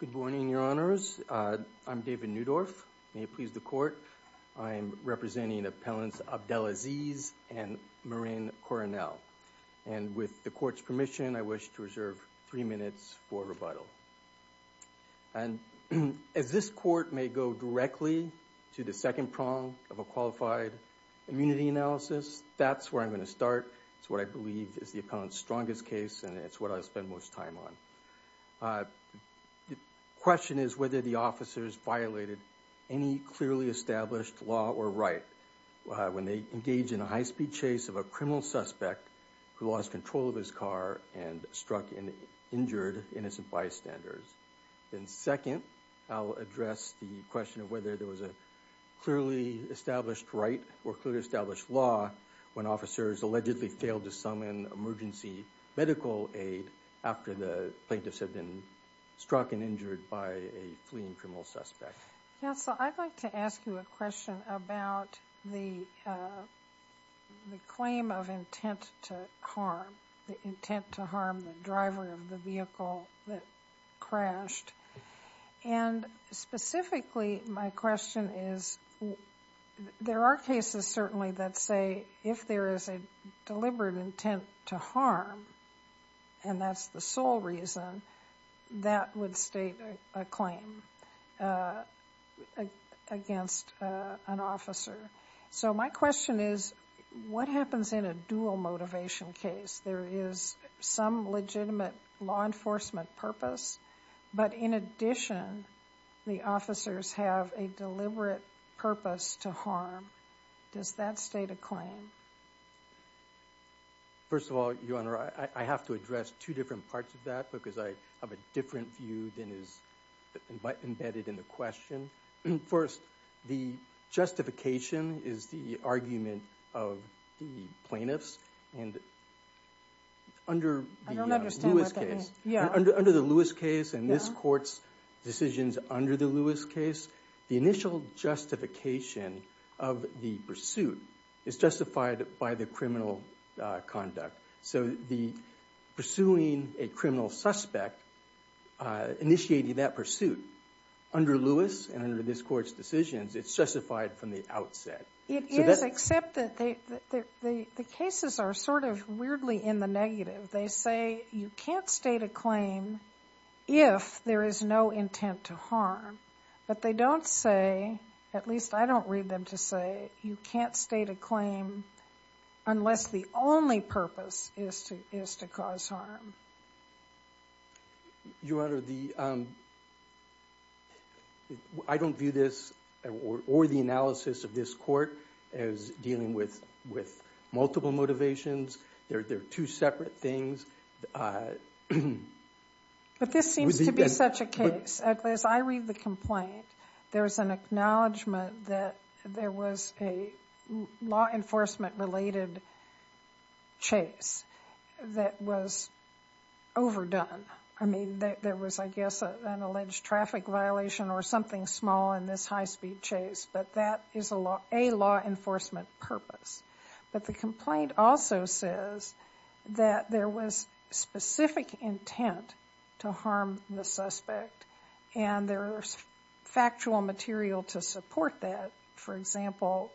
Good morning, your honors. I'm David Newdorf. May it please the court. I am representing appellants Abdelaziz and Marin Coronel and with the court's permission. I wish to reserve three minutes for rebuttal and As this court may go directly to the second prong of a qualified Immunity analysis. That's where I'm going to start. It's what I believe is the appellant's strongest case and it's what I spend most time on The question is whether the officers violated any clearly established law or right when they engage in a high-speed chase of a criminal suspect who lost control of his car and struck and injured innocent bystanders. Then second, I'll address the question of whether there was a Clearly established right or clearly established law when officers allegedly failed to summon emergency Medical aid after the plaintiffs had been struck and injured by a fleeing criminal suspect yeah, so I'd like to ask you a question about the the claim of intent to harm the intent to harm the driver of the vehicle that crashed and Specifically my question is there are cases certainly that say if there is a Deliberate intent to harm and that's the sole reason that would state a claim Against an officer. So my question is what happens in a dual motivation case? There is some legitimate law enforcement purpose But in addition the officers have a deliberate purpose to harm Does that state a claim? First of all, your honor. I have to address two different parts of that because I have a different view than is Embedded in the question. First the justification is the argument of the plaintiffs and Under Under the Lewis case and this courts decisions under the Lewis case the initial Justification of the pursuit is justified by the criminal conduct so the pursuing a criminal suspect Initiating that pursuit under Lewis and under this courts decisions. It's justified from the outset It is except that they the cases are sort of weirdly in the negative. They say you can't state a claim If there is no intent to harm, but they don't say At least I don't read them to say you can't state a claim Unless the only purpose is to is to cause harm Your honor the I Don't view this or the analysis of this court as Dealing with with multiple motivations. They're they're two separate things Mm-hmm, but this seems to be such a case at least I read the complaint. There was an acknowledgment that there was a law enforcement related chase that was Overdone. I mean that there was I guess an alleged traffic violation or something small in this high-speed chase But that is a law a law enforcement purpose, but the complaint also says That there was specific intent to harm the suspect and there's Factual material to support that for example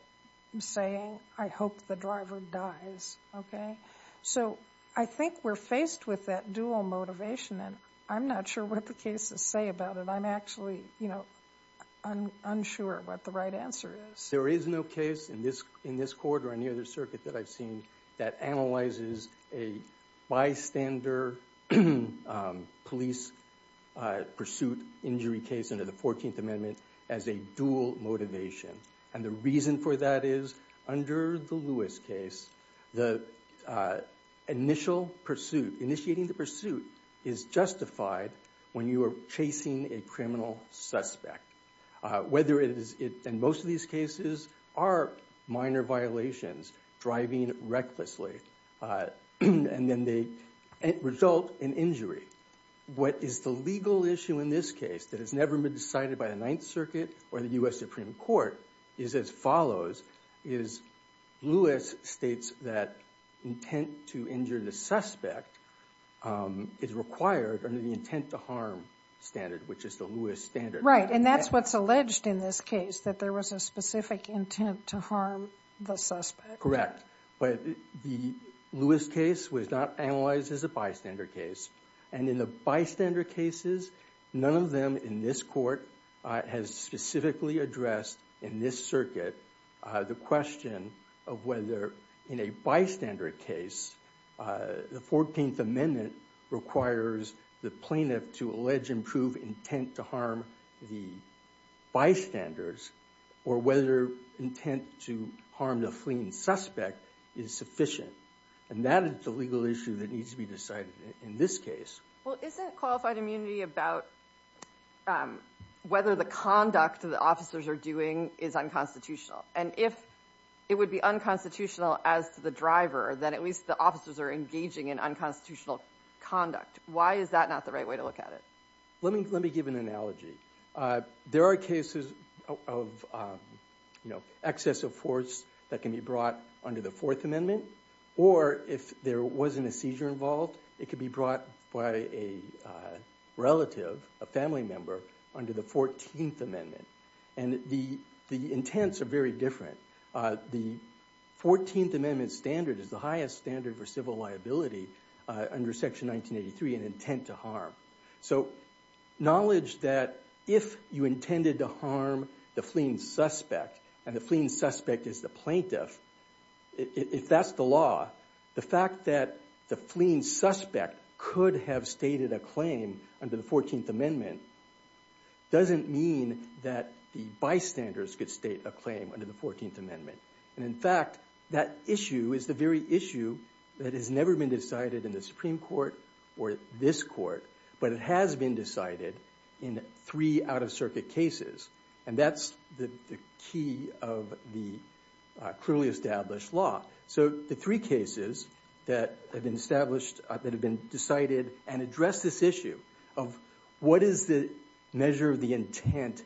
Saying I hope the driver dies Okay, so I think we're faced with that dual motivation, and I'm not sure what the cases say about it I'm actually you know Unsure what the right answer is there is no case in this in this court or any other circuit that I've seen that analyzes a bystander police Pursuit injury case under the 14th amendment as a dual motivation and the reason for that is under the Lewis case the Initial pursuit initiating the pursuit is justified when you are chasing a criminal suspect Whether it is it and most of these cases are minor violations Driving recklessly And then they result in injury What is the legal issue in this case that has never been decided by the Ninth Circuit or the US Supreme Court is as follows? is Lewis states that intent to injure the suspect Is required under the intent to harm standard which is the Lewis standard, right? And that's what's alleged in this case that there was a specific intent to harm the suspect but the Lewis case was not analyzed as a bystander case and in the bystander cases None of them in this court has specifically addressed in this circuit the question of whether in a bystander case the 14th amendment requires the plaintiff to allege improve intent to harm the Bystanders or whether intent to harm the fleeing suspect is Sufficient and that is the legal issue that needs to be decided in this case. Well isn't qualified immunity about Whether the conduct of the officers are doing is unconstitutional and if it would be Unconstitutional as to the driver then at least the officers are engaging in unconstitutional conduct Why is that not the right way to look at it? Let me let me give an analogy there are cases of you know excessive force that can be brought under the Fourth Amendment or if there wasn't a seizure involved it could be brought by a Relative a family member under the 14th amendment and the the intents are very different the 14th amendment standard is the highest standard for civil liability under section 1983 and intent to harm so Knowledge that if you intended to harm the fleeing suspect and the fleeing suspect is the plaintiff If that's the law the fact that the fleeing suspect could have stated a claim under the 14th amendment Doesn't mean that the bystanders could state a claim under the 14th amendment And in fact that issue is the very issue that has never been decided in the Supreme Court or this court but it has been decided in three out-of-circuit cases, and that's the key of the clearly established law so the three cases that have been established that have been decided and address this issue of What is the measure of the intent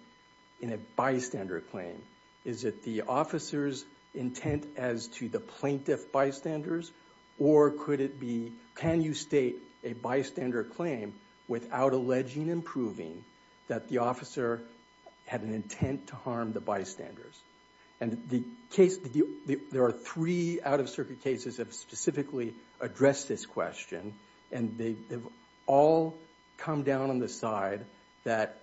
in a bystander claim? Is it the officers intent as to the plaintiff bystanders? Or could it be can you state a bystander claim without alleging and proving that the officer? Had an intent to harm the bystanders and the case Did you there are three out-of-circuit cases have specifically addressed this question? and they've all come down on the side that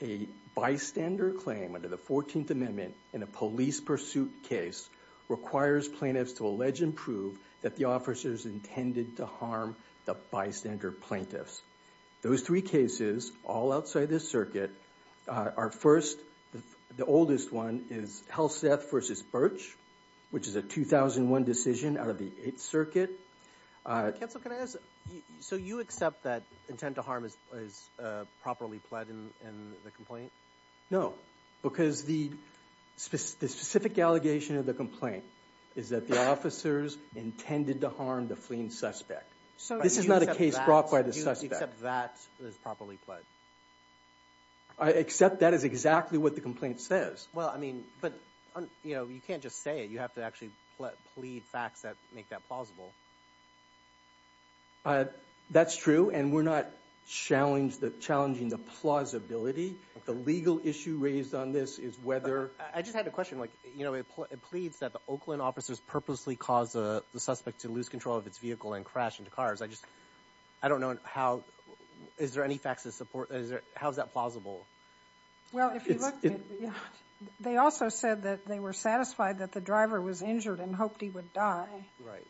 a Bystander claim under the 14th amendment in a police pursuit case Requires plaintiffs to allege and prove that the officers intended to harm the bystander plaintiffs Those three cases all outside this circuit are first The oldest one is Halstead versus Birch, which is a 2001 decision out of the 8th circuit So you accept that intent to harm is properly pled in the complaint no because the Specific specific allegation of the complaint is that the officers intended to harm the fleeing suspect So this is not a case brought by the suspect that is properly pled Except that is exactly what the complaint says well I mean, but you know you can't just say it you have to actually plead facts that make that plausible That's true, and we're not Challenged the challenging the plausibility the legal issue raised on this is whether I just had a question like you know It pleads that the Oakland officers purposely caused the suspect to lose control of its vehicle and crash into cars I just I don't know how is there any faxes support is there. How's that plausible? well They also said that they were satisfied that the driver was injured and hoped he would die right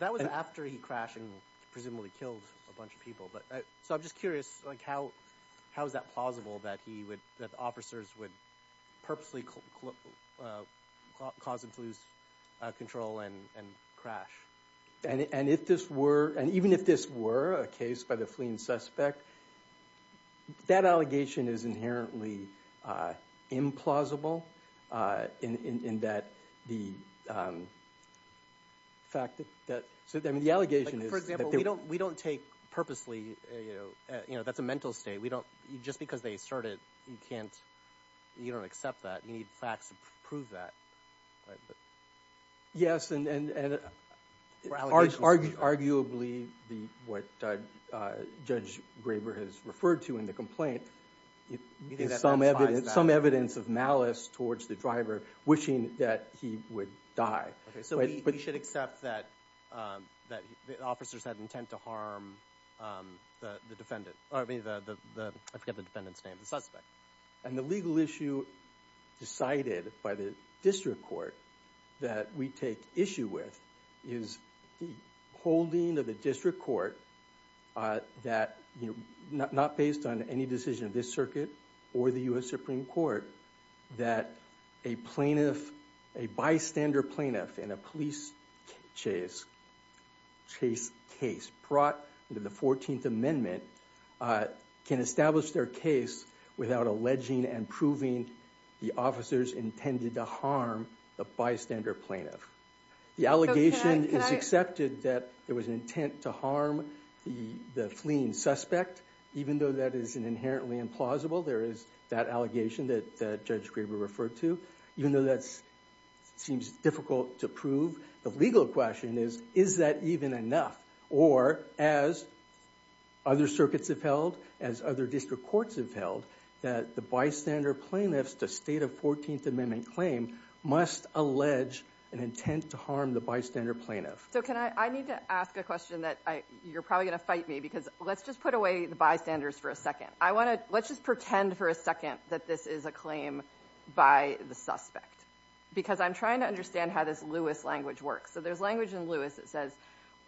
that was after he crashed Presumably killed a bunch of people, but so I'm just curious like how how is that plausible that he would that the officers would? purposely Caused him to lose control and and crash and and if this were and even if this were a case by the fleeing suspect That allegation is inherently Implausible in in that the The Fact that that so then the allegation is we don't we don't take purposely you know you know that's a mental state We don't you just because they started you can't You don't accept that you need facts to prove that Yes and Arguably the what Judge Graber has referred to in the complaint Some evidence some evidence of malice towards the driver wishing that he would die okay, so we should accept that That the officers had intent to harm The defendant I mean the the I forget the defendants name the suspect and the legal issue Decided by the district court that we take issue with is the holding of the district court That you know not based on any decision of this circuit or the US Supreme Court that a plaintiff a bystander plaintiff in a police chase Chase case brought into the 14th amendment Can establish their case without alleging and proving the officers intended to harm the bystander plaintiff? The allegation is accepted that there was an intent to harm the the fleeing suspect Even though that is an inherently implausible. There is that allegation that Judge Graber referred to even though that's seems difficult to prove the legal question is is that even enough or as Other circuits have held as other district courts have held that the bystander plaintiffs to state of 14th amendment claim Must allege an intent to harm the bystander plaintiff So can I need to ask a question that I you're probably gonna fight me because let's just put away the bystanders for a second I want to let's just pretend for a second that this is a claim by the suspect Because I'm trying to understand how this Lewis language works So there's language in Lewis that says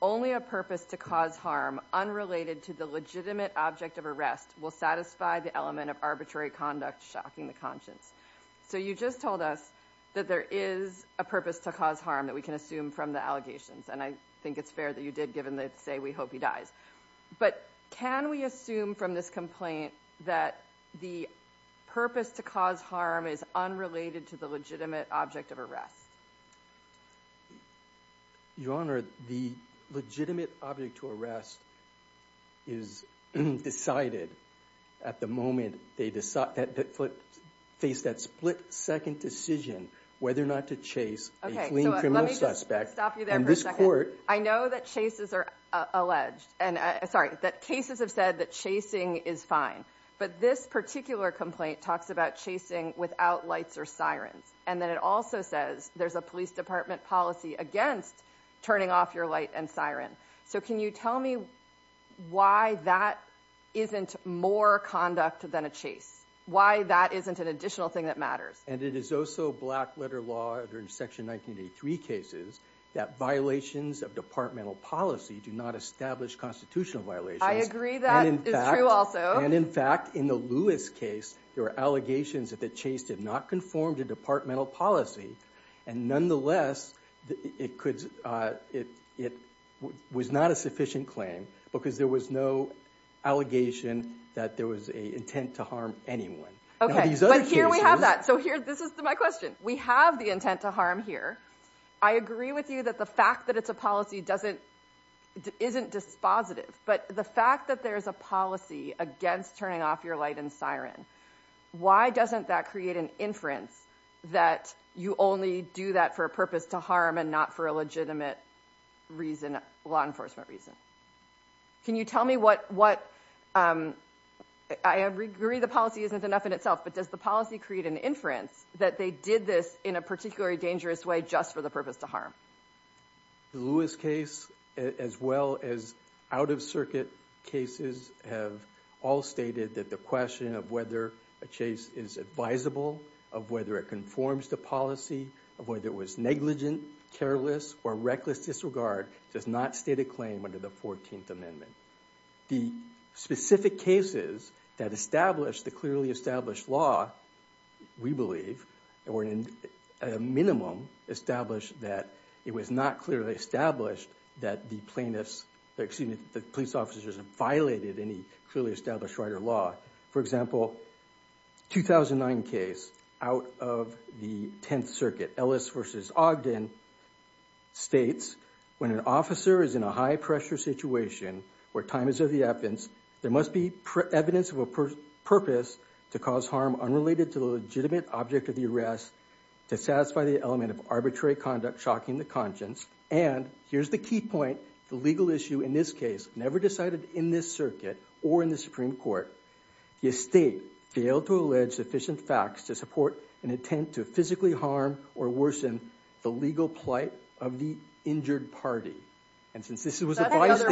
only a purpose to cause harm Unrelated to the legitimate object of arrest will satisfy the element of arbitrary conduct shocking the conscience So you just told us that there is a purpose to cause harm that we can assume from the allegations And I think it's fair that you did given that say we hope he dies but can we assume from this complaint that the Purpose to cause harm is unrelated to the legitimate object of arrest Your honor the legitimate object to arrest is Decided at the moment they decide that that foot face that split-second decision Whether or not to chase I know that chases are Alleged and sorry that cases have said that chasing is fine But this particular complaint talks about chasing without lights or sirens And then it also says there's a police department policy against turning off your light and siren. So, can you tell me? Why that? Isn't more conduct than a chase why that isn't an additional thing that matters and it is also black letter law during section 1983 cases that violations of departmental policy do not establish constitutional violations I agree that and in fact in the Lewis case There are allegations that the chase did not conform to departmental policy and nonetheless It could it it was not a sufficient claim Because there was no Allegation that there was a intent to harm anyone. Okay, but here we have that. So here this is my question We have the intent to harm here. I agree with you that the fact that it's a policy doesn't Isn't dispositive but the fact that there's a policy against turning off your light and siren Why doesn't that create an inference that you only do that for a purpose to harm and not for a legitimate? reason law enforcement reason Can you tell me what what? I Agree, the policy isn't enough in itself But does the policy create an inference that they did this in a particularly dangerous way just for the purpose to harm? the Lewis case as well as out-of-circuit cases have all stated that the question of whether a Chase is advisable of whether it conforms to policy of whether it was negligent Careless or reckless disregard does not state a claim under the 14th Amendment the Specific cases that established the clearly established law we believe and we're in a Minimum established that it was not clearly established that the plaintiffs Exceeding the police officers have violated any clearly established right or law for example 2009 case out of the 10th circuit Ellis versus Ogden States when an officer is in a high-pressure situation where time is of the evidence There must be evidence of a purpose to cause harm unrelated to the legitimate object of the arrest to satisfy the element of arbitrary conduct shocking the conscience and Here's the key point the legal issue in this case never decided in this circuit or in the Supreme Court The estate failed to allege sufficient facts to support an intent to physically harm or worsen the legal plight of the injured party and since this was a Case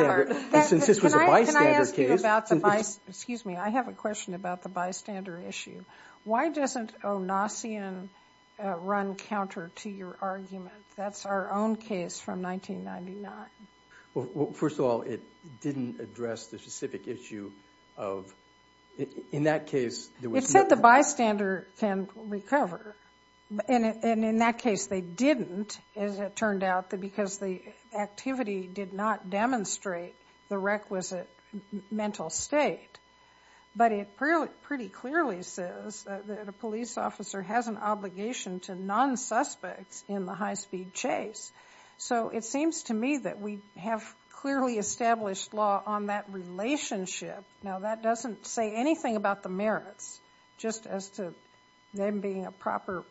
excuse me. I have a question about the bystander issue. Why doesn't Oh Nassian? Run counter to your argument. That's our own case from 1999 first of all, it didn't address the specific issue of In that case it said the bystander can recover in it and in that case they didn't as it turned out that because the Activity did not demonstrate the requisite mental state But it really pretty clearly says that a police officer has an obligation to non Suspects in the high-speed chase So it seems to me that we have clearly established law on that Relationship now that doesn't say anything about the merits just as to them being a proper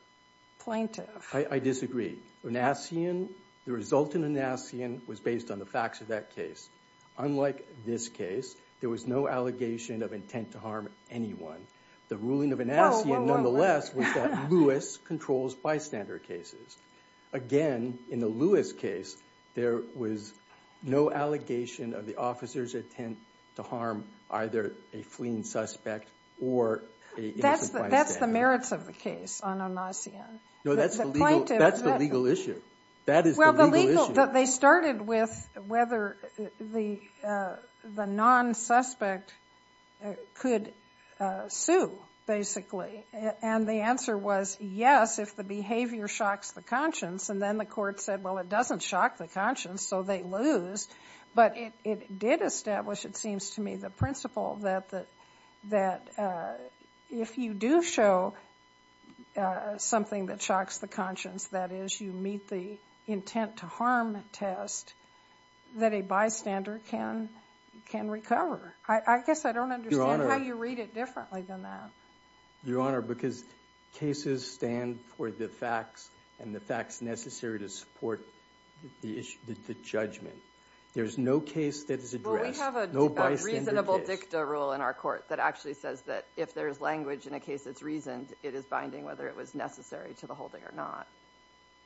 Plaintiff, I disagree Nassian the result in a Nassian was based on the facts of that case Unlike this case there was no allegation of intent to harm anyone the ruling of a Nassian nonetheless Lewis controls bystander cases again in the Lewis case there was No allegation of the officers intent to harm either a fleeing suspect or That's the merits of the case on a Nassian. No, that's that's the legal issue That is well the legal that they started with whether the the non suspect could sue Basically, and the answer was yes if the behavior shocks the conscience and then the court said well It doesn't shock the conscience so they lose But it did establish it seems to me the principle that that that if you do show Something that shocks the conscience that is you meet the intent to harm test That a bystander can can recover. I guess I don't understand how you read it differently than that Your honor because cases stand for the facts and the facts necessary to support the issue the judgment There's no case that is addressed Reasonable dicta rule in our court that actually says that if there is language in a case that's reasoned it is binding whether it was Necessary to the holding or not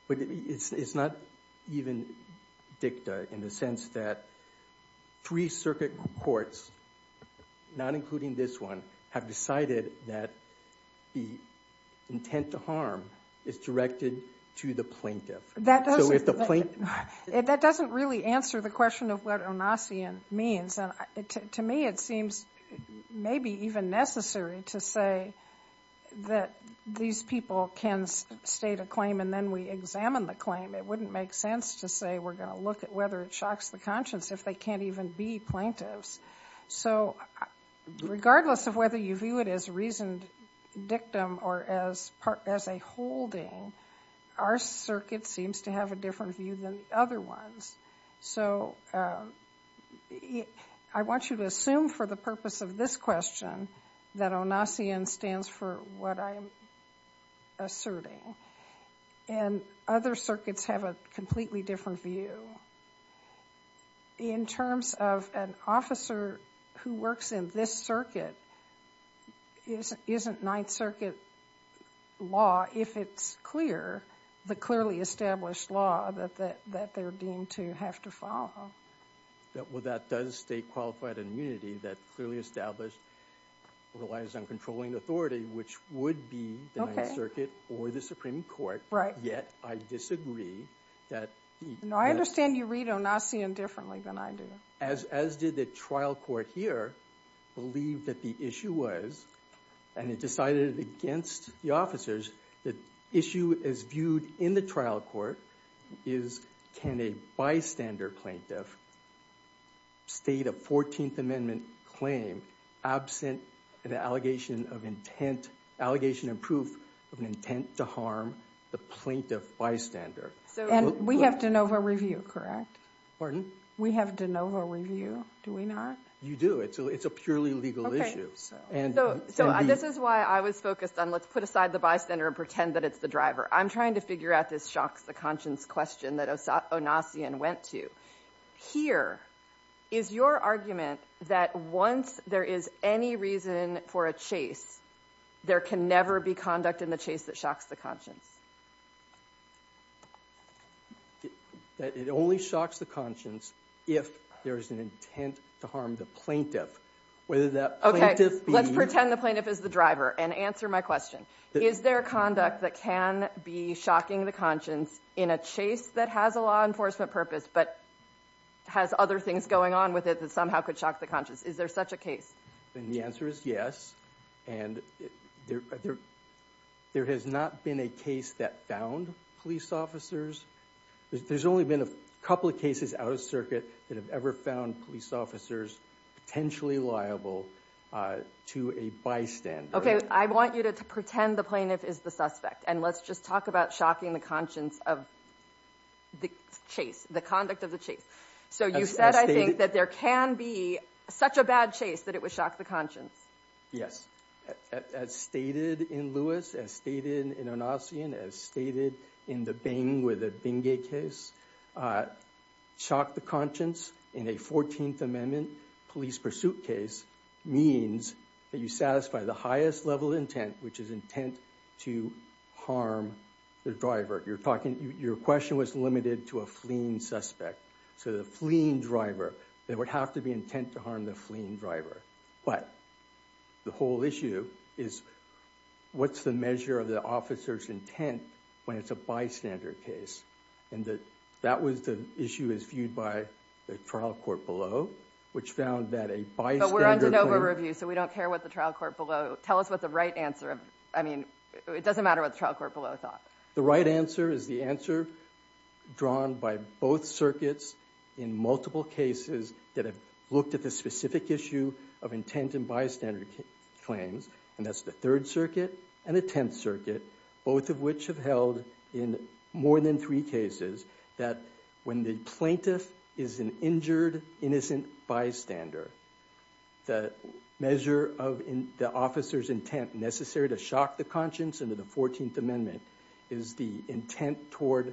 But it's it's not even dicta in the sense that three circuit courts Not including this one have decided that the Intent to harm is directed to the plaintiff that doesn't the point That doesn't really answer the question of what a Nassian means and to me it seems Maybe even necessary to say That these people can state a claim and then we examine the claim It wouldn't make sense to say we're gonna look at whether it shocks the conscience if they can't even be plaintiffs so Regardless of whether you view it as reasoned dictum or as part as a holding Our circuit seems to have a different view than the other ones. So Yeah, I want you to assume for the purpose of this question that on Nassian stands for what I am Asserting and other circuits have a completely different view In terms of an officer who works in this circuit Is isn't Ninth Circuit? Law if it's clear the clearly established law that that that they're deemed to have to follow That well, that does state qualified immunity that clearly established Relies on controlling authority, which would be the circuit or the Supreme Court, right? Yet. I disagree that No, I understand you read on Nassian differently than I do as as did the trial court here Believed that the issue was and it decided against the officers The issue is viewed in the trial court is Can a bystander plaintiff? State a 14th Amendment claim absent an allegation of intent We have to know her review correct, or do we have to know her review do we not you do it So it's a purely legal issue And so this is why I was focused on let's put aside the bystander and pretend that it's the driver I'm trying to figure out this shocks the conscience question that I saw a Nassian went to Here is your argument that once there is any reason for a chase There can never be conduct in the chase that shocks the conscience That it only shocks the conscience if there is an intent to harm the plaintiff whether that okay Let's pretend the plaintiff is the driver and answer my question Is there conduct that can be shocking the conscience in a chase that has a law enforcement purpose, but? Has other things going on with it that somehow could shock the conscience. Is there such a case then the answer is yes, and there There has not been a case that found police officers There's only been a couple of cases out of circuit that have ever found police officers potentially liable To a bystander. Okay. I want you to pretend the plaintiff is the suspect and let's just talk about shocking the conscience of The chase the conduct of the chase so you said I think that there can be Such a bad chase that it was shocked the conscience. Yes As stated in Lewis as stated in a Nazi and as stated in the Bing with a bing a case Shocked the conscience in a 14th Amendment police pursuit case Means that you satisfy the highest level intent which is intent to harm The driver you're talking your question was limited to a fleeing suspect so the fleeing driver that would have to be intent to harm the fleeing driver, but The whole issue is What's the measure of the officer's intent when it's a bystander case? And that that was the issue is viewed by the trial court below which found that a bystander Review so we don't care what the trial court below tell us what the right answer I mean, it doesn't matter what the trial court below thought the right answer is the answer Drawn by both circuits in multiple cases that have looked at the specific issue of intent and bystander Claims and that's the Third Circuit and a Tenth Circuit Both of which have held in more than three cases that when the plaintiff is an injured innocent bystander the measure of in the officer's intent necessary to shock the conscience under the 14th Amendment is the intent toward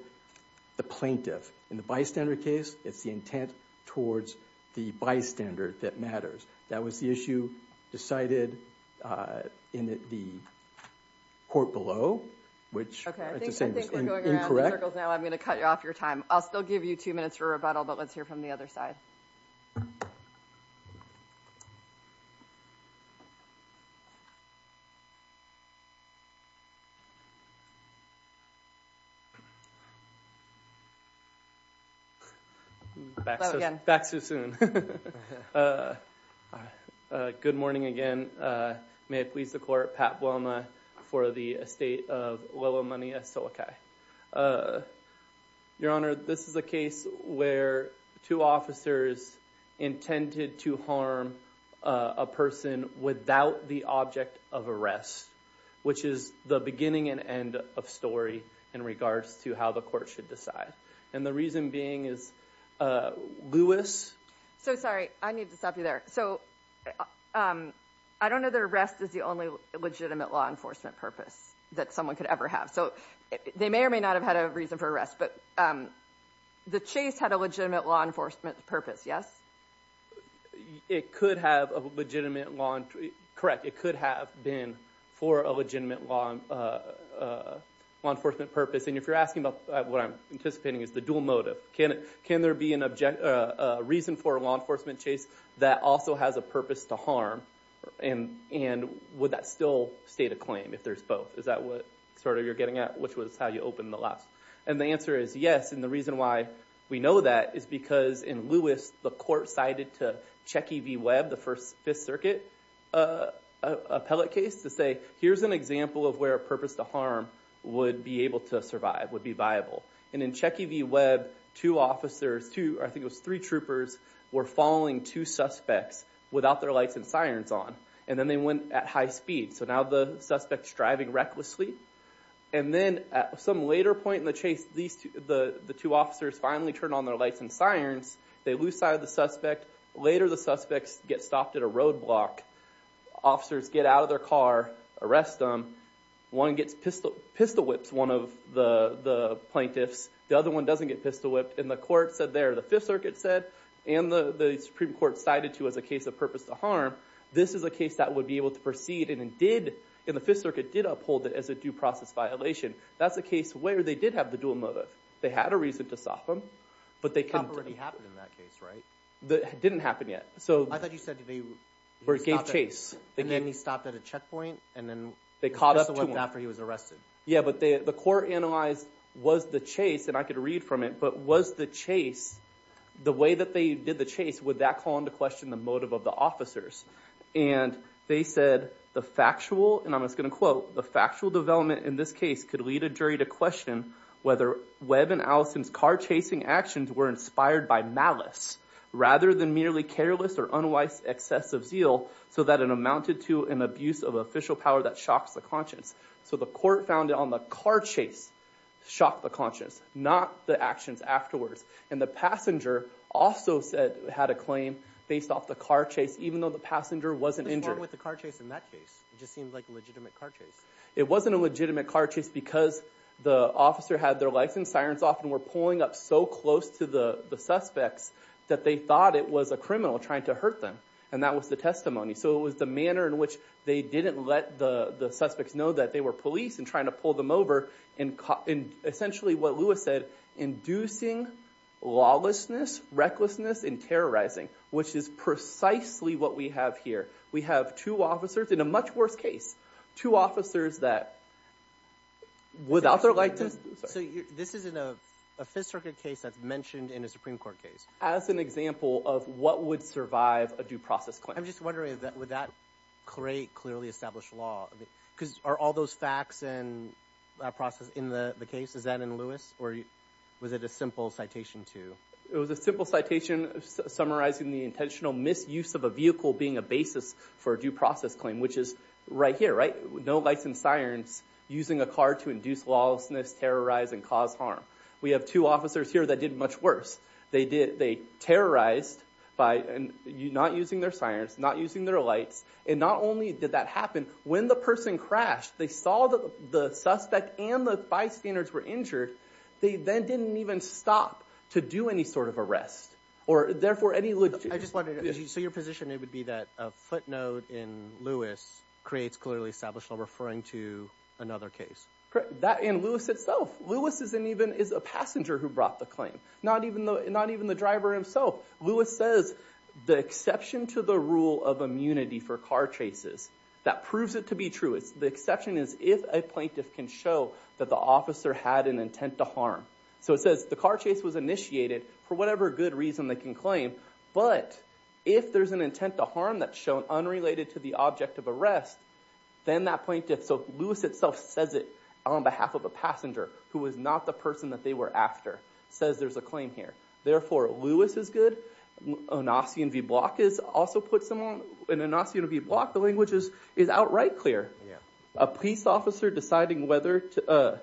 The plaintiff in the bystander case. It's the intent towards the bystander that matters. That was the issue decided in the court below which I'm gonna cut you off your time. I'll still give you two minutes for rebuttal, but let's hear from the other side Back Too soon Good morning again, may it please the court Pat Wilma for the estate of Willow money a silica Your honor this is a case where two officers intended to harm a Without the object of arrest which is the beginning and end of story in regards to how the court should decide and the reason being is Louis so sorry. I need to stop you there. So I Don't know the rest is the only legitimate law enforcement purpose that someone could ever have so they may or may not have had a reason for arrest, but The chase had a legitimate law enforcement purpose. Yes It could have a legitimate laundry, correct it could have been for a legitimate long Law enforcement purpose and if you're asking about what I'm anticipating is the dual motive. Can it can there be an object? reason for a law enforcement chase that also has a purpose to harm and And would that still state a claim if there's both is that what sort of you're getting at? Which was how you open the last and the answer is yes And the reason why we know that is because in Lewis the court cited to Checky V Webb the first Fifth Circuit Appellate case to say here's an example of where a purpose to harm Would be able to survive would be viable and in Checky V Webb two officers to I think it was three troopers Were following two suspects without their lights and sirens on and then they went at high speed so now the suspects driving recklessly and Then at some later point in the chase these two the the two officers finally turn on their lights and sirens They lose sight of the suspect later the suspects get stopped at a roadblock officers get out of their car arrest them one gets pistol pistol whips one of the Plaintiffs the other one doesn't get pistol whipped in the court said there the Fifth Circuit said and the the Supreme Court cited to as a case of purpose to harm This is a case that would be able to proceed and it did in the Fifth Circuit did uphold it as a due process Violation that's a case where they did have the dual motive They had a reason to stop them, but they can't really happen in that case right that didn't happen yet So I thought you said to me Where it gave chase and then he stopped at a checkpoint and then they caught up after he was arrested Yeah, but they the court analyzed was the chase and I could read from it, but was the chase The way that they did the chase would that call into question the motive of the officers and They said the factual and I'm just gonna quote the factual development in this case could lead a jury to question Whether Webb and Allison's car chasing actions were inspired by malice Rather than merely careless or unwise excessive zeal so that it amounted to an abuse of official power that shocks the conscience So the court found it on the car chase Shocked the conscience not the actions afterwards and the passenger also Said had a claim based off the car chase even though the passenger wasn't injured with the car chase in that case It just seemed like a legitimate car chase It wasn't a legitimate car chase because the officer had their lights and sirens off and were pulling up so close to the the suspects That they thought it was a criminal trying to hurt them and that was the testimony so it was the manner in which they didn't let the the suspects know that they were police and trying to pull them over and essentially what Lewis said inducing lawlessness Recklessness and terrorizing which is precisely what we have here. We have two officers in a much worse case two officers that Without their lightness This isn't a Fifth Circuit case that's mentioned in a Supreme Court case as an example of what would survive a due process claim I'm just wondering that with that great clearly established law because are all those facts and Process in the the case is that in Lewis or was it a simple citation to it was a simple citation Summarizing the intentional misuse of a vehicle being a basis for a due process claim, which is right here, right? No lights and sirens using a car to induce lawlessness terrorizing cause harm We have two officers here that did much worse They did they terrorized by and you not using their sirens not using their lights And not only did that happen when the person crashed they saw that the suspect and the bystanders were injured They then didn't even stop to do any sort of arrest or therefore any look I just wanted to see your position It would be that a footnote in Lewis creates clearly established law referring to another case That in Lewis itself Lewis isn't even is a passenger who brought the claim not even though it not even the driver himself Lewis says the exception to the rule of immunity for car chases that proves it to be true It's the exception is if a plaintiff can show that the officer had an intent to harm So it says the car chase was initiated for whatever good reason they can claim But if there's an intent to harm that's shown unrelated to the object of arrest Then that plaintiff so Lewis itself says it on behalf of a passenger who was not the person that they were after Says there's a claim here. Therefore Lewis is good Anossian V block is also put someone in a nasty to be blocked. The language is is outright clear yeah, a police officer deciding whether to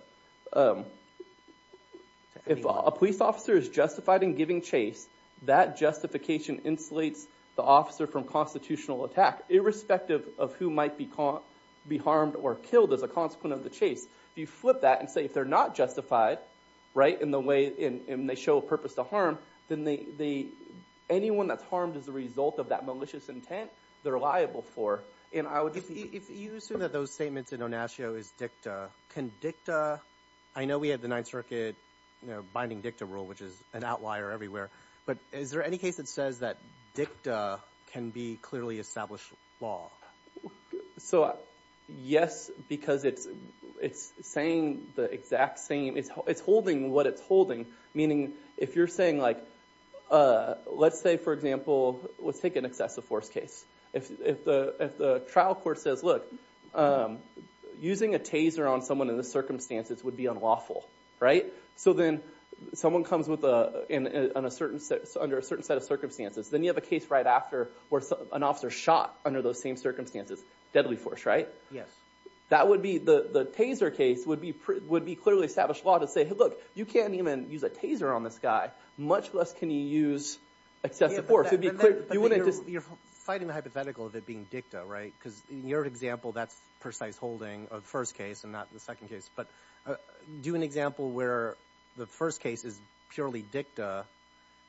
If a police officer is justified in giving chase that Justification insulates the officer from constitutional attack Irrespective of who might be caught be harmed or killed as a consequence of the chase if you flip that and say if they're not justified right in the way in they show a purpose to harm then they Anyone that's harmed as a result of that malicious intent They're liable for and I would if you assume that those statements in Onasio is dicta can dicta I know we had the Ninth Circuit, you know binding dicta rule, which is an outlier everywhere But is there any case that says that dicta can be clearly established law? so Yes, because it's it's saying the exact same it's holding what it's holding meaning if you're saying like Let's say for example, let's take an excessive force case. If the if the trial court says look Using a taser on someone in the circumstances would be unlawful, right? So then someone comes with a in a certain set under a certain set of circumstances Then you have a case right after where an officer shot under those same circumstances deadly force, right? Yes, that would be the the taser case would be pretty would be clearly established law to say hey look You can't even use a taser on this guy much less. Can you use? Excessive force would be you wouldn't just you're fighting the hypothetical of it being dicta, right? Because your example that's precise holding of first case and not the second case but do an example where the first case is purely dicta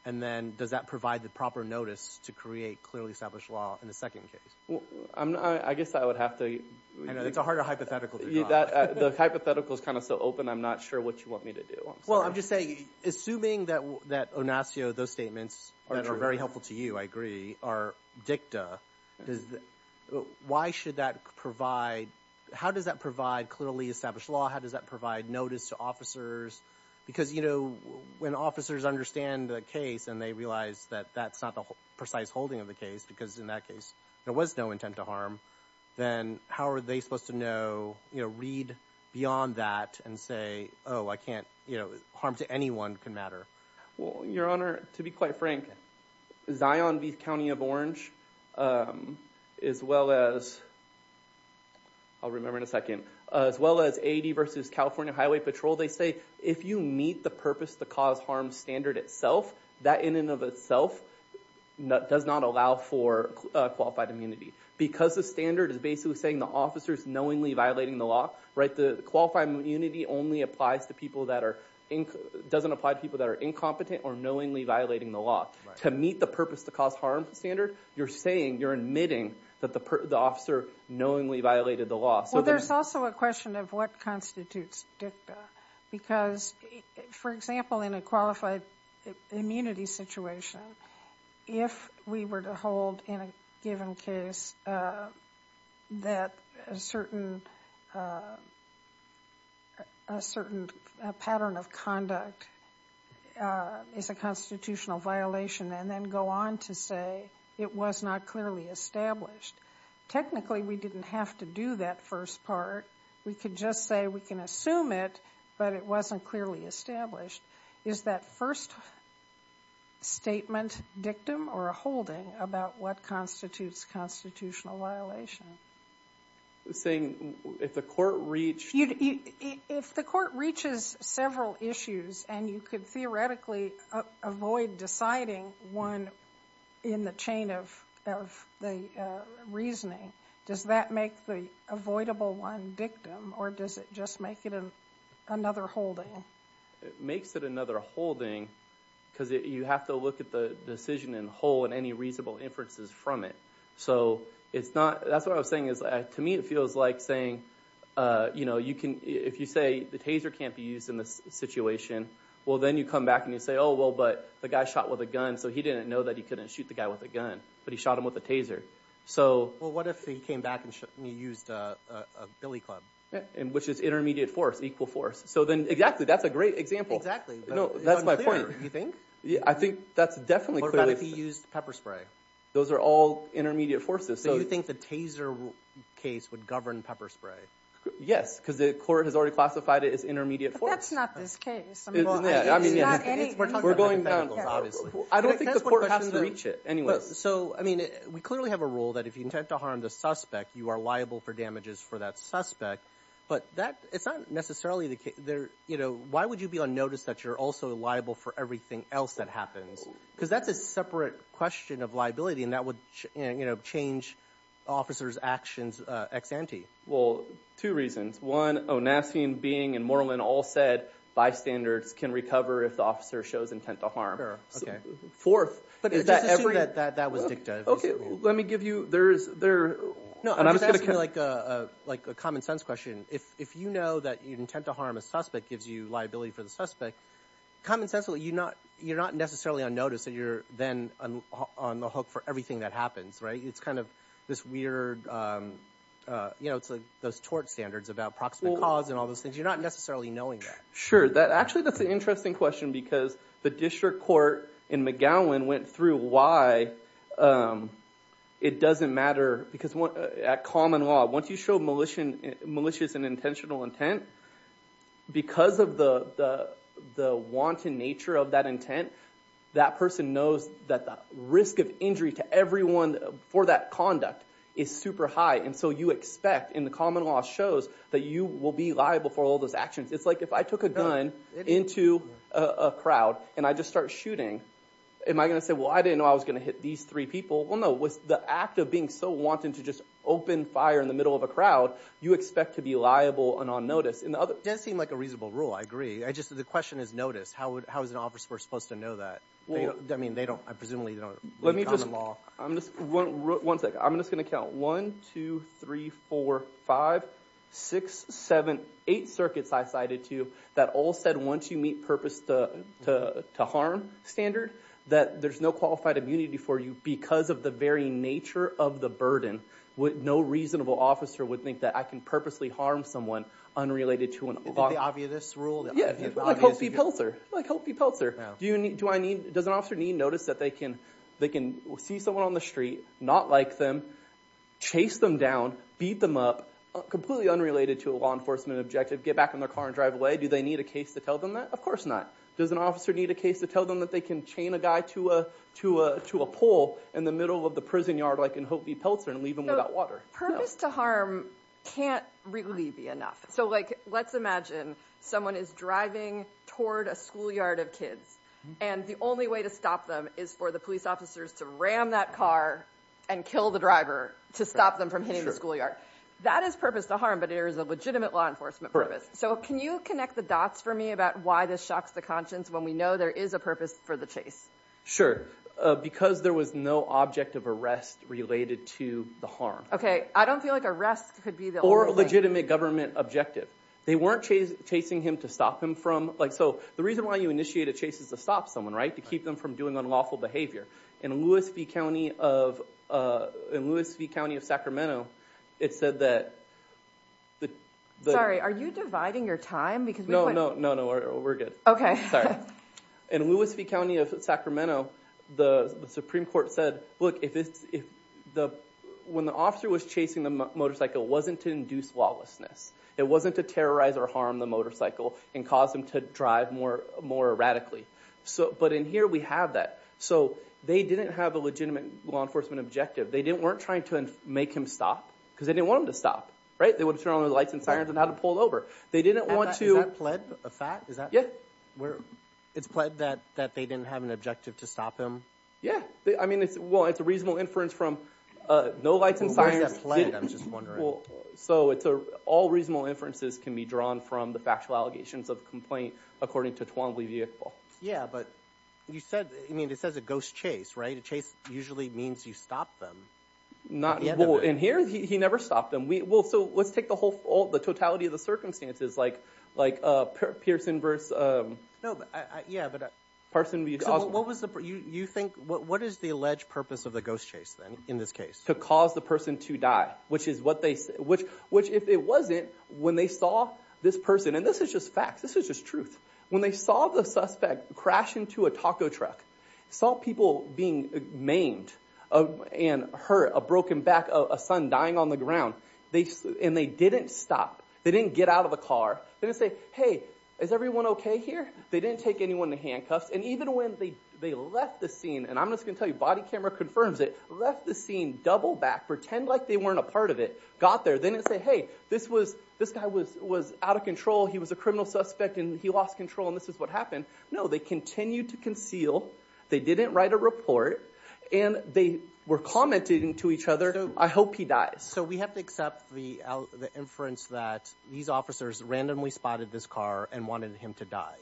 and Does that provide the proper notice to create clearly established law in the second case? Well, I'm not I guess I would have to it's a harder hypothetical that the hypothetical is kind of so open I'm not sure what you want me to do Well, I'm just saying assuming that that Onassio those statements that are very helpful to you. I agree are dicta Why should that provide how does that provide clearly established law? How does that provide notice to officers? Because you know When officers understand the case and they realize that that's not the precise holding of the case because in that case There was no intent to harm then. How are they supposed to know, you know read beyond that and say Oh, I can't you know harm to anyone can matter. Well your honor to be quite frank Zion V County of Orange as well as I'll remember in a second as well as 80 versus, California Highway Patrol They say if you meet the purpose to cause harm standard itself that in and of itself nut does not allow for Qualified immunity because the standard is basically saying the officers knowingly violating the law right the qualified immunity only applies to people that are Doesn't apply to people that are incompetent or knowingly violating the law to meet the purpose to cause harm standard You're saying you're admitting that the officer knowingly violated the law. So there's also a question of what constitutes dicta because for example in a qualified immunity situation If we were to hold in a given case that a certain Certain pattern of conduct Is a constitutional violation and then go on to say it was not clearly established Technically, we didn't have to do that first part. We could just say we can assume it but it wasn't clearly established Is that first? Statement dictum or a holding about what constitutes constitutional violation Saying if the court reached you if the court reaches several issues and you could theoretically avoid deciding one in the chain of Reasoning does that make the avoidable one dictum or does it just make it an another holding? It makes it another holding because you have to look at the decision in whole and any reasonable inferences from it So it's not that's what I was saying is that to me it feels like saying You know, you can if you say the taser can't be used in this situation Well, then you come back and you say oh well, but the guy shot with a gun So he didn't know that he couldn't shoot the guy with a gun, but he shot him with a taser So well, what if he came back and you used a billy club and which is intermediate force equal force So then exactly that's a great example. Exactly. No, that's my point. You think? Yeah, I think that's definitely clearly used pepper spray Those are all intermediate forces. So you think the taser? Case would govern pepper spray. Yes, because the court has already classified. It is intermediate for us. That's not this case Anyway, so I mean we clearly have a rule that if you intend to harm the suspect you are liable for damages for that suspect But that it's not necessarily the case there You know Why would you be on notice that you're also liable for everything else that happens? Because that's a separate question of liability and that would you know change officers actions ex ante well Two reasons one Oh nasty and being and Moreland all said bystanders can recover if the officer shows intent to harm fourth Okay, let me give you there's there Like a common-sense question if if you know that you'd intend to harm a suspect gives you liability for the suspect Common-sense will you not you're not necessarily on notice that you're then on the hook for everything that happens, right? It's kind of this weird You know, it's like those tort standards about proximate cause and all those things. You're not necessarily knowing that sure that actually that's an interesting question Because the district court in McGowan went through why? It doesn't matter because what at common law once you show militia malicious and intentional intent Because of the the wanton nature of that intent that person knows that the risk of injury to everyone for that conduct is Super high and so you expect in the common law shows that you will be liable for all those actions It's like if I took a gun into a crowd and I just start shooting Am I gonna say well, I didn't know I was gonna hit these three people Well, no with the act of being so wanting to just open fire in the middle of a crowd You expect to be liable and on notice and the other does seem like a reasonable rule. I agree I just the question is notice. How would how is an officer supposed to know that? Well, I mean, they don't I presumably don't let me just law. I'm just one one sec I'm just gonna count one two, three, four five six seven eight circuits I cited to you that all said once you meet purpose to Harm standard that there's no qualified immunity for you because of the very nature of the burden What no reasonable officer would think that I can purposely harm someone unrelated to an obvious rule Yeah, he tells her like hope you Peltzer Do you need to I need does an officer need notice that they can they can see someone on the street not like them Chase them down beat them up Completely unrelated to a law enforcement objective get back in their car and drive away Do they need a case to tell them that of course not? does an officer need a case to tell them that they can chain a guy to a To a pole in the middle of the prison yard like in Hopi Peltzer and leave them without water purpose to harm Can't really be enough So like let's imagine Someone is driving toward a schoolyard of kids and the only way to stop them is for the police officers to ram that car And kill the driver to stop them from hitting the schoolyard that is purpose to harm But it is a legitimate law enforcement purpose So can you connect the dots for me about why this shocks the conscience when we know there is a purpose for the chase? Sure, because there was no object of arrest related to the harm Okay, I don't feel like arrest could be the or legitimate government objective They weren't chasing him to stop him from like so the reason why you initiate a chase is to stop someone right to keep them from doing unlawful behavior in Louis V County of in Louis V County of Sacramento it said that The sorry are you dividing your time because no no no no we're good. Okay, sorry in Louis V County of Sacramento the Supreme Court said look if it's if the when the officer was chasing the Motorcycle wasn't to induce lawlessness It wasn't to terrorize or harm the motorcycle and cause them to drive more more erratically So but in here we have that so they didn't have a legitimate law enforcement objective They didn't weren't trying to make him stop because they didn't want him to stop right they would turn on the lights and sirens and How to pull over they didn't want to Yeah, we're it's pled that that they didn't have an objective to stop him yeah, I mean it's well It's a reasonable inference from no lights and sirens So it's a all reasonable inferences can be drawn from the factual allegations of complaint according to Twombly vehicle Yeah, but you said I mean it says a ghost chase right a chase usually means you stop them Not in here. He never stopped him So let's take the whole the totality of the circumstances like like a Pearson verse Yeah, but a person What was the you you think what is the alleged purpose of the ghost chase then in this case to cause the person to die? Which is what they say which which if it wasn't when they saw this person, and this is just facts This is just truth when they saw the suspect crash into a taco truck Saw people being maimed And hurt a broken back of a son dying on the ground they and they didn't stop they didn't get out of the car They didn't say hey is everyone okay here They didn't take anyone to handcuffs and even when they they left the scene And I'm just gonna tell you body camera confirms it left the scene double back pretend like they weren't a part of it got there They didn't say hey this was this guy was was out of control He was a criminal suspect, and he lost control, and this is what happened. No they continued to conceal They didn't write a report, and they were commenting to each other I hope he died so we have to accept the Inference that these officers randomly spotted this car and wanted him to die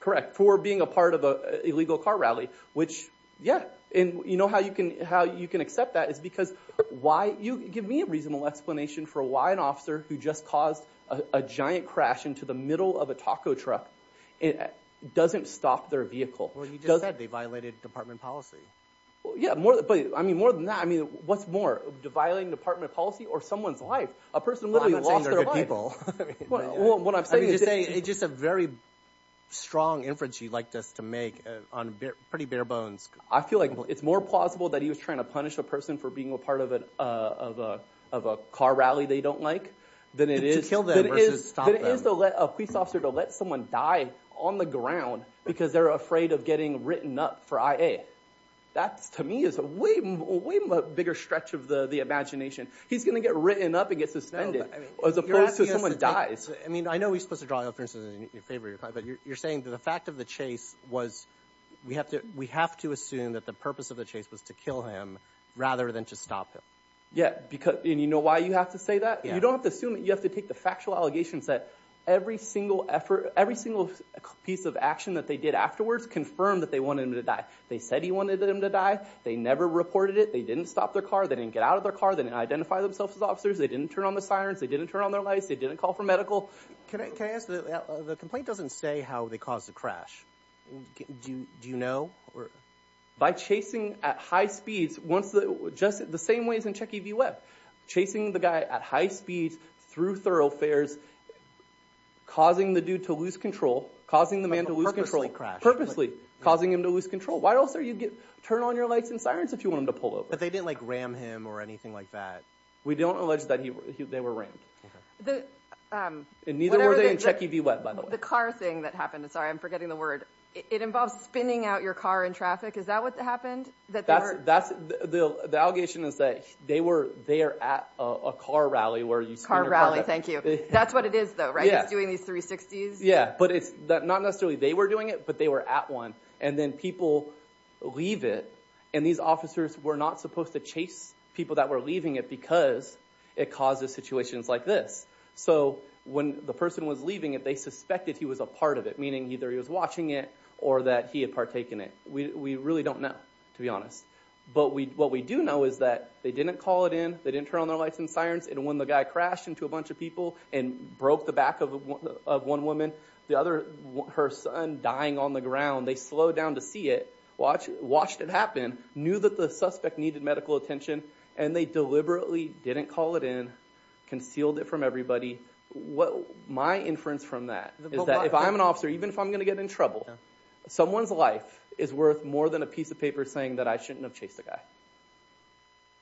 Correct for being a part of a illegal car rally which yeah And you know how you can how you can accept that is because why you give me a reasonable explanation for why an officer who? Just caused a giant crash into the middle of a taco truck it Doesn't stop their vehicle. Well. He does that they violated department policy. Well. Yeah more, but I mean more than that I mean, what's more violating department policy or someone's life a person would be a lot of people What I'm saying is a it's just a very Strong inference you'd like this to make on pretty bare bones I feel like it's more plausible that he was trying to punish a person for being a part of it of a of a car They don't like To let someone die on the ground because they're afraid of getting written up for I a That's to me is a way bigger stretch of the the imagination He's gonna get written up and get suspended as opposed to someone dies I mean, I know he's supposed to drive up versus in your favor But you're saying that the fact of the chase was We have to we have to assume that the purpose of the chase was to kill him rather than to stop him Yeah, because you know why you have to say that you don't have to assume it you have to take the factual allegations that Every single effort every single piece of action that they did afterwards confirmed that they wanted him to die They said he wanted him to die. They never reported it. They didn't stop their car They didn't get out of their car. They didn't identify themselves as officers. They didn't turn on the sirens They didn't turn on their lights. They didn't call for medical The complaint doesn't say how they caused the crash Do you know or by chasing at high speeds once the just the same ways in Checky V web Chasing the guy at high speeds through thoroughfares Causing the dude to lose control causing the man to lose control Purposely causing him to lose control Why else are you get turn on your lights and sirens if you want him to pull over but they didn't like ram him or anything Like that, we don't allege that he they were ranked In neither were they in Checky V web by the car thing that happened to sorry I'm forgetting the word it involves spinning out your car in traffic. Is that what happened? That's that's the the allegation is that they were they are at a car rally where you start rally. Thank you That's what it is though, right? Yeah doing these 360s Yeah, but it's that not necessarily they were doing it, but they were at one and then people Leave it and these officers were not supposed to chase people that were leaving it because it causes situations like this So when the person was leaving it, they suspected he was a part of it Meaning either he was watching it or that he had partaken it We really don't know to be honest but we what we do know is that they didn't call it in they didn't turn on their lights and sirens and when the guy crashed into a bunch of people and broke the back of One woman the other her son dying on the ground They slowed down to see it watch watched it happen knew that the suspect needed medical attention and they deliberately didn't call it in Concealed it from everybody what my inference from that is that if I'm an officer even if I'm gonna get in trouble Someone's life is worth more than a piece of paper saying that I shouldn't have chased a guy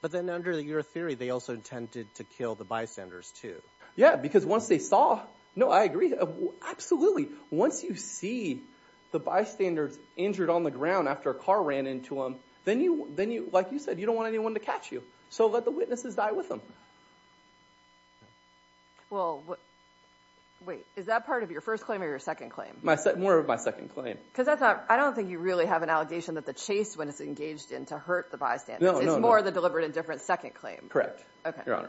But then under the your theory they also intended to kill the bystanders, too Yeah, because once they saw no, I agree Absolutely. Once you see the bystanders injured on the ground after a car ran into him Then you then you like you said you don't want anyone to catch you. So let the witnesses die with them Well, what Wait, is that part of your first claim or your second claim? I said more of my second claim because I thought I don't think you really have an allegation that the chase when it's engaged In to hurt the bystanders. It's more the deliberate indifference second claim, correct? And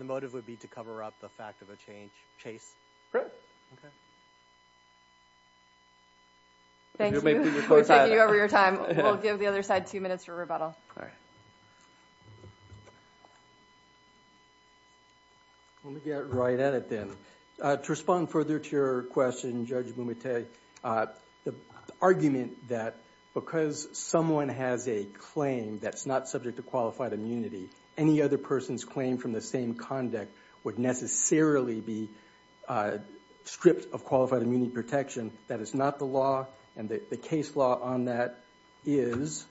the motive would be to cover up the fact of a change chase Thank you, thank you over your time we'll give the other side two minutes for rebuttal When we get right at it then to respond further to your question judge when we take the argument that Because someone has a claim that's not subject to qualified immunity any other person's claim from the same conduct would necessarily be Stripped of qualified immunity protection. That is not the law and the case law on that is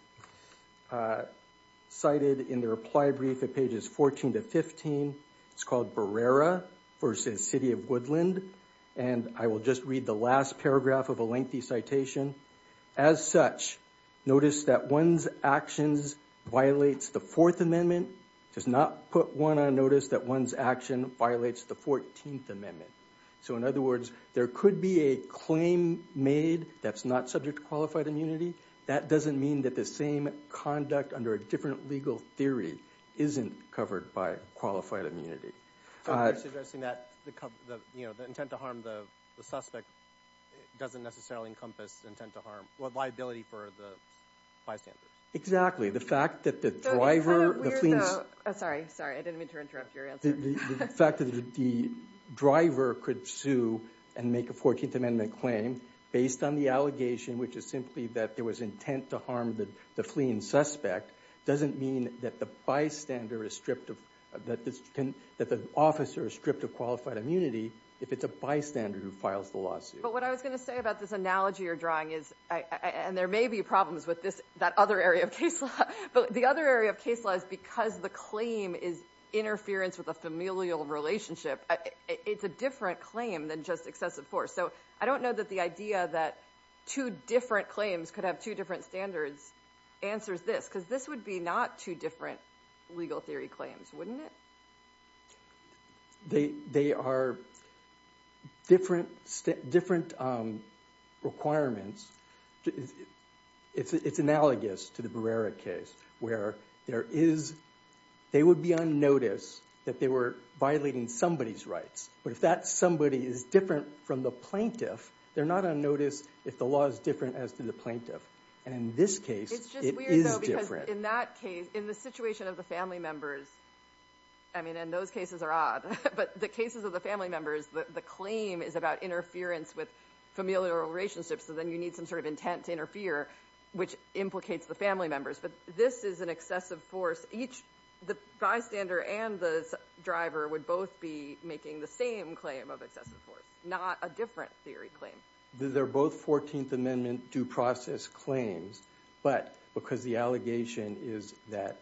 Cited in the reply brief at pages 14 to 15 it's called Barrera versus City of Woodland and I will just read the last paragraph of a lengthy citation as such Notice that one's actions Violates the Fourth Amendment does not put one on notice that one's action violates the 14th Amendment So in other words, there could be a claim made that's not subject to qualified immunity That doesn't mean that the same conduct under a different legal theory isn't covered by qualified immunity Exactly the fact that the driver Fact that the Intent to harm the fleeing suspect doesn't mean that the bystander is stripped of that This can that the officer is stripped of qualified immunity if it's a bystander who files the lawsuit but what I was gonna say about this analogy or drawing is And there may be problems with this that other area of case law But the other area of case law is because the claim is interference with a familial relationship It's a different claim than just excessive force So, I don't know that the idea that two different claims could have two different standards Answers this because this would be not two different legal theory claims, wouldn't it? They they are Different different Requirements It's it's analogous to the Barrera case where there is They would be on notice that they were violating somebody's rights But if that somebody is different from the plaintiff They're not on notice if the law is different as to the plaintiff and in this case In that case in the situation of the family members I mean and those cases are odd But the cases of the family members that the claim is about interference with familial relationships So then you need some sort of intent to interfere which implicates the family members This is an excessive force each the bystander and the Driver would both be making the same claim of excessive force not a different theory claim They're both 14th Amendment due process claims but because the allegation is that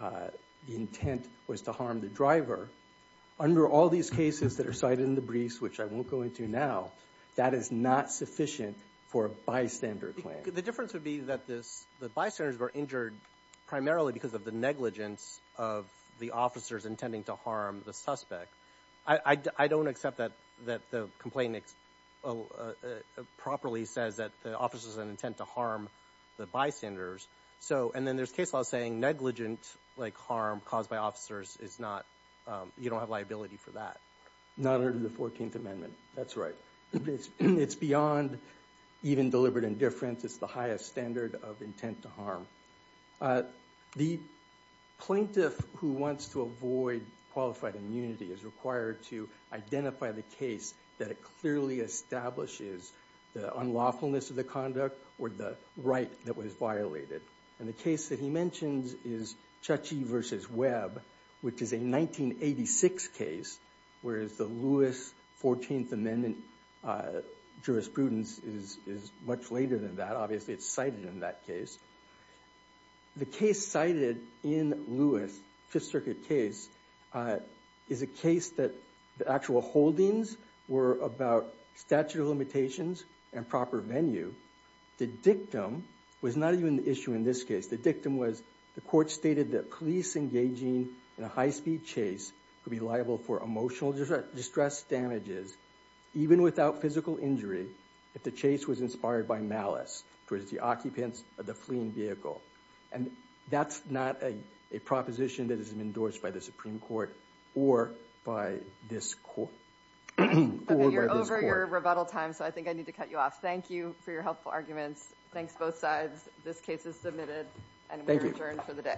The intent was to harm the driver Under all these cases that are cited in the briefs, which I won't go into now That is not sufficient for a bystander claim the difference would be that this the bystanders were injured Primarily because of the negligence of the officers intending to harm the suspect. I Don't accept that that the complainant Properly says that the officers an intent to harm the bystanders So and then there's case law saying negligent like harm caused by officers is not you don't have liability for that Not under the 14th Amendment, that's right. It's it's beyond Even deliberate indifference. It's the highest standard of intent to harm the Plaintiff who wants to avoid qualified immunity is required to identify the case that it clearly Establishes the unlawfulness of the conduct or the right that was violated and the case that he mentions is Chachi versus Webb, which is a 1986 case. Whereas the Lewis 14th Amendment Jurisprudence is is much later than that. Obviously it's cited in that case The case cited in Lewis Fifth Circuit case Is a case that the actual holdings were about statute of limitations and proper venue The dictum was not even the issue in this case The dictum was the court stated that police engaging in a high-speed chase could be liable for emotional distress Damages even without physical injury if the chase was inspired by malice towards the occupants of the fleeing vehicle and that's not a proposition that has been endorsed by the Supreme Court or by this You're over your rebuttal time, so I think I need to cut you off. Thank you for your helpful arguments Thanks both sides. This case is submitted and thank you for the day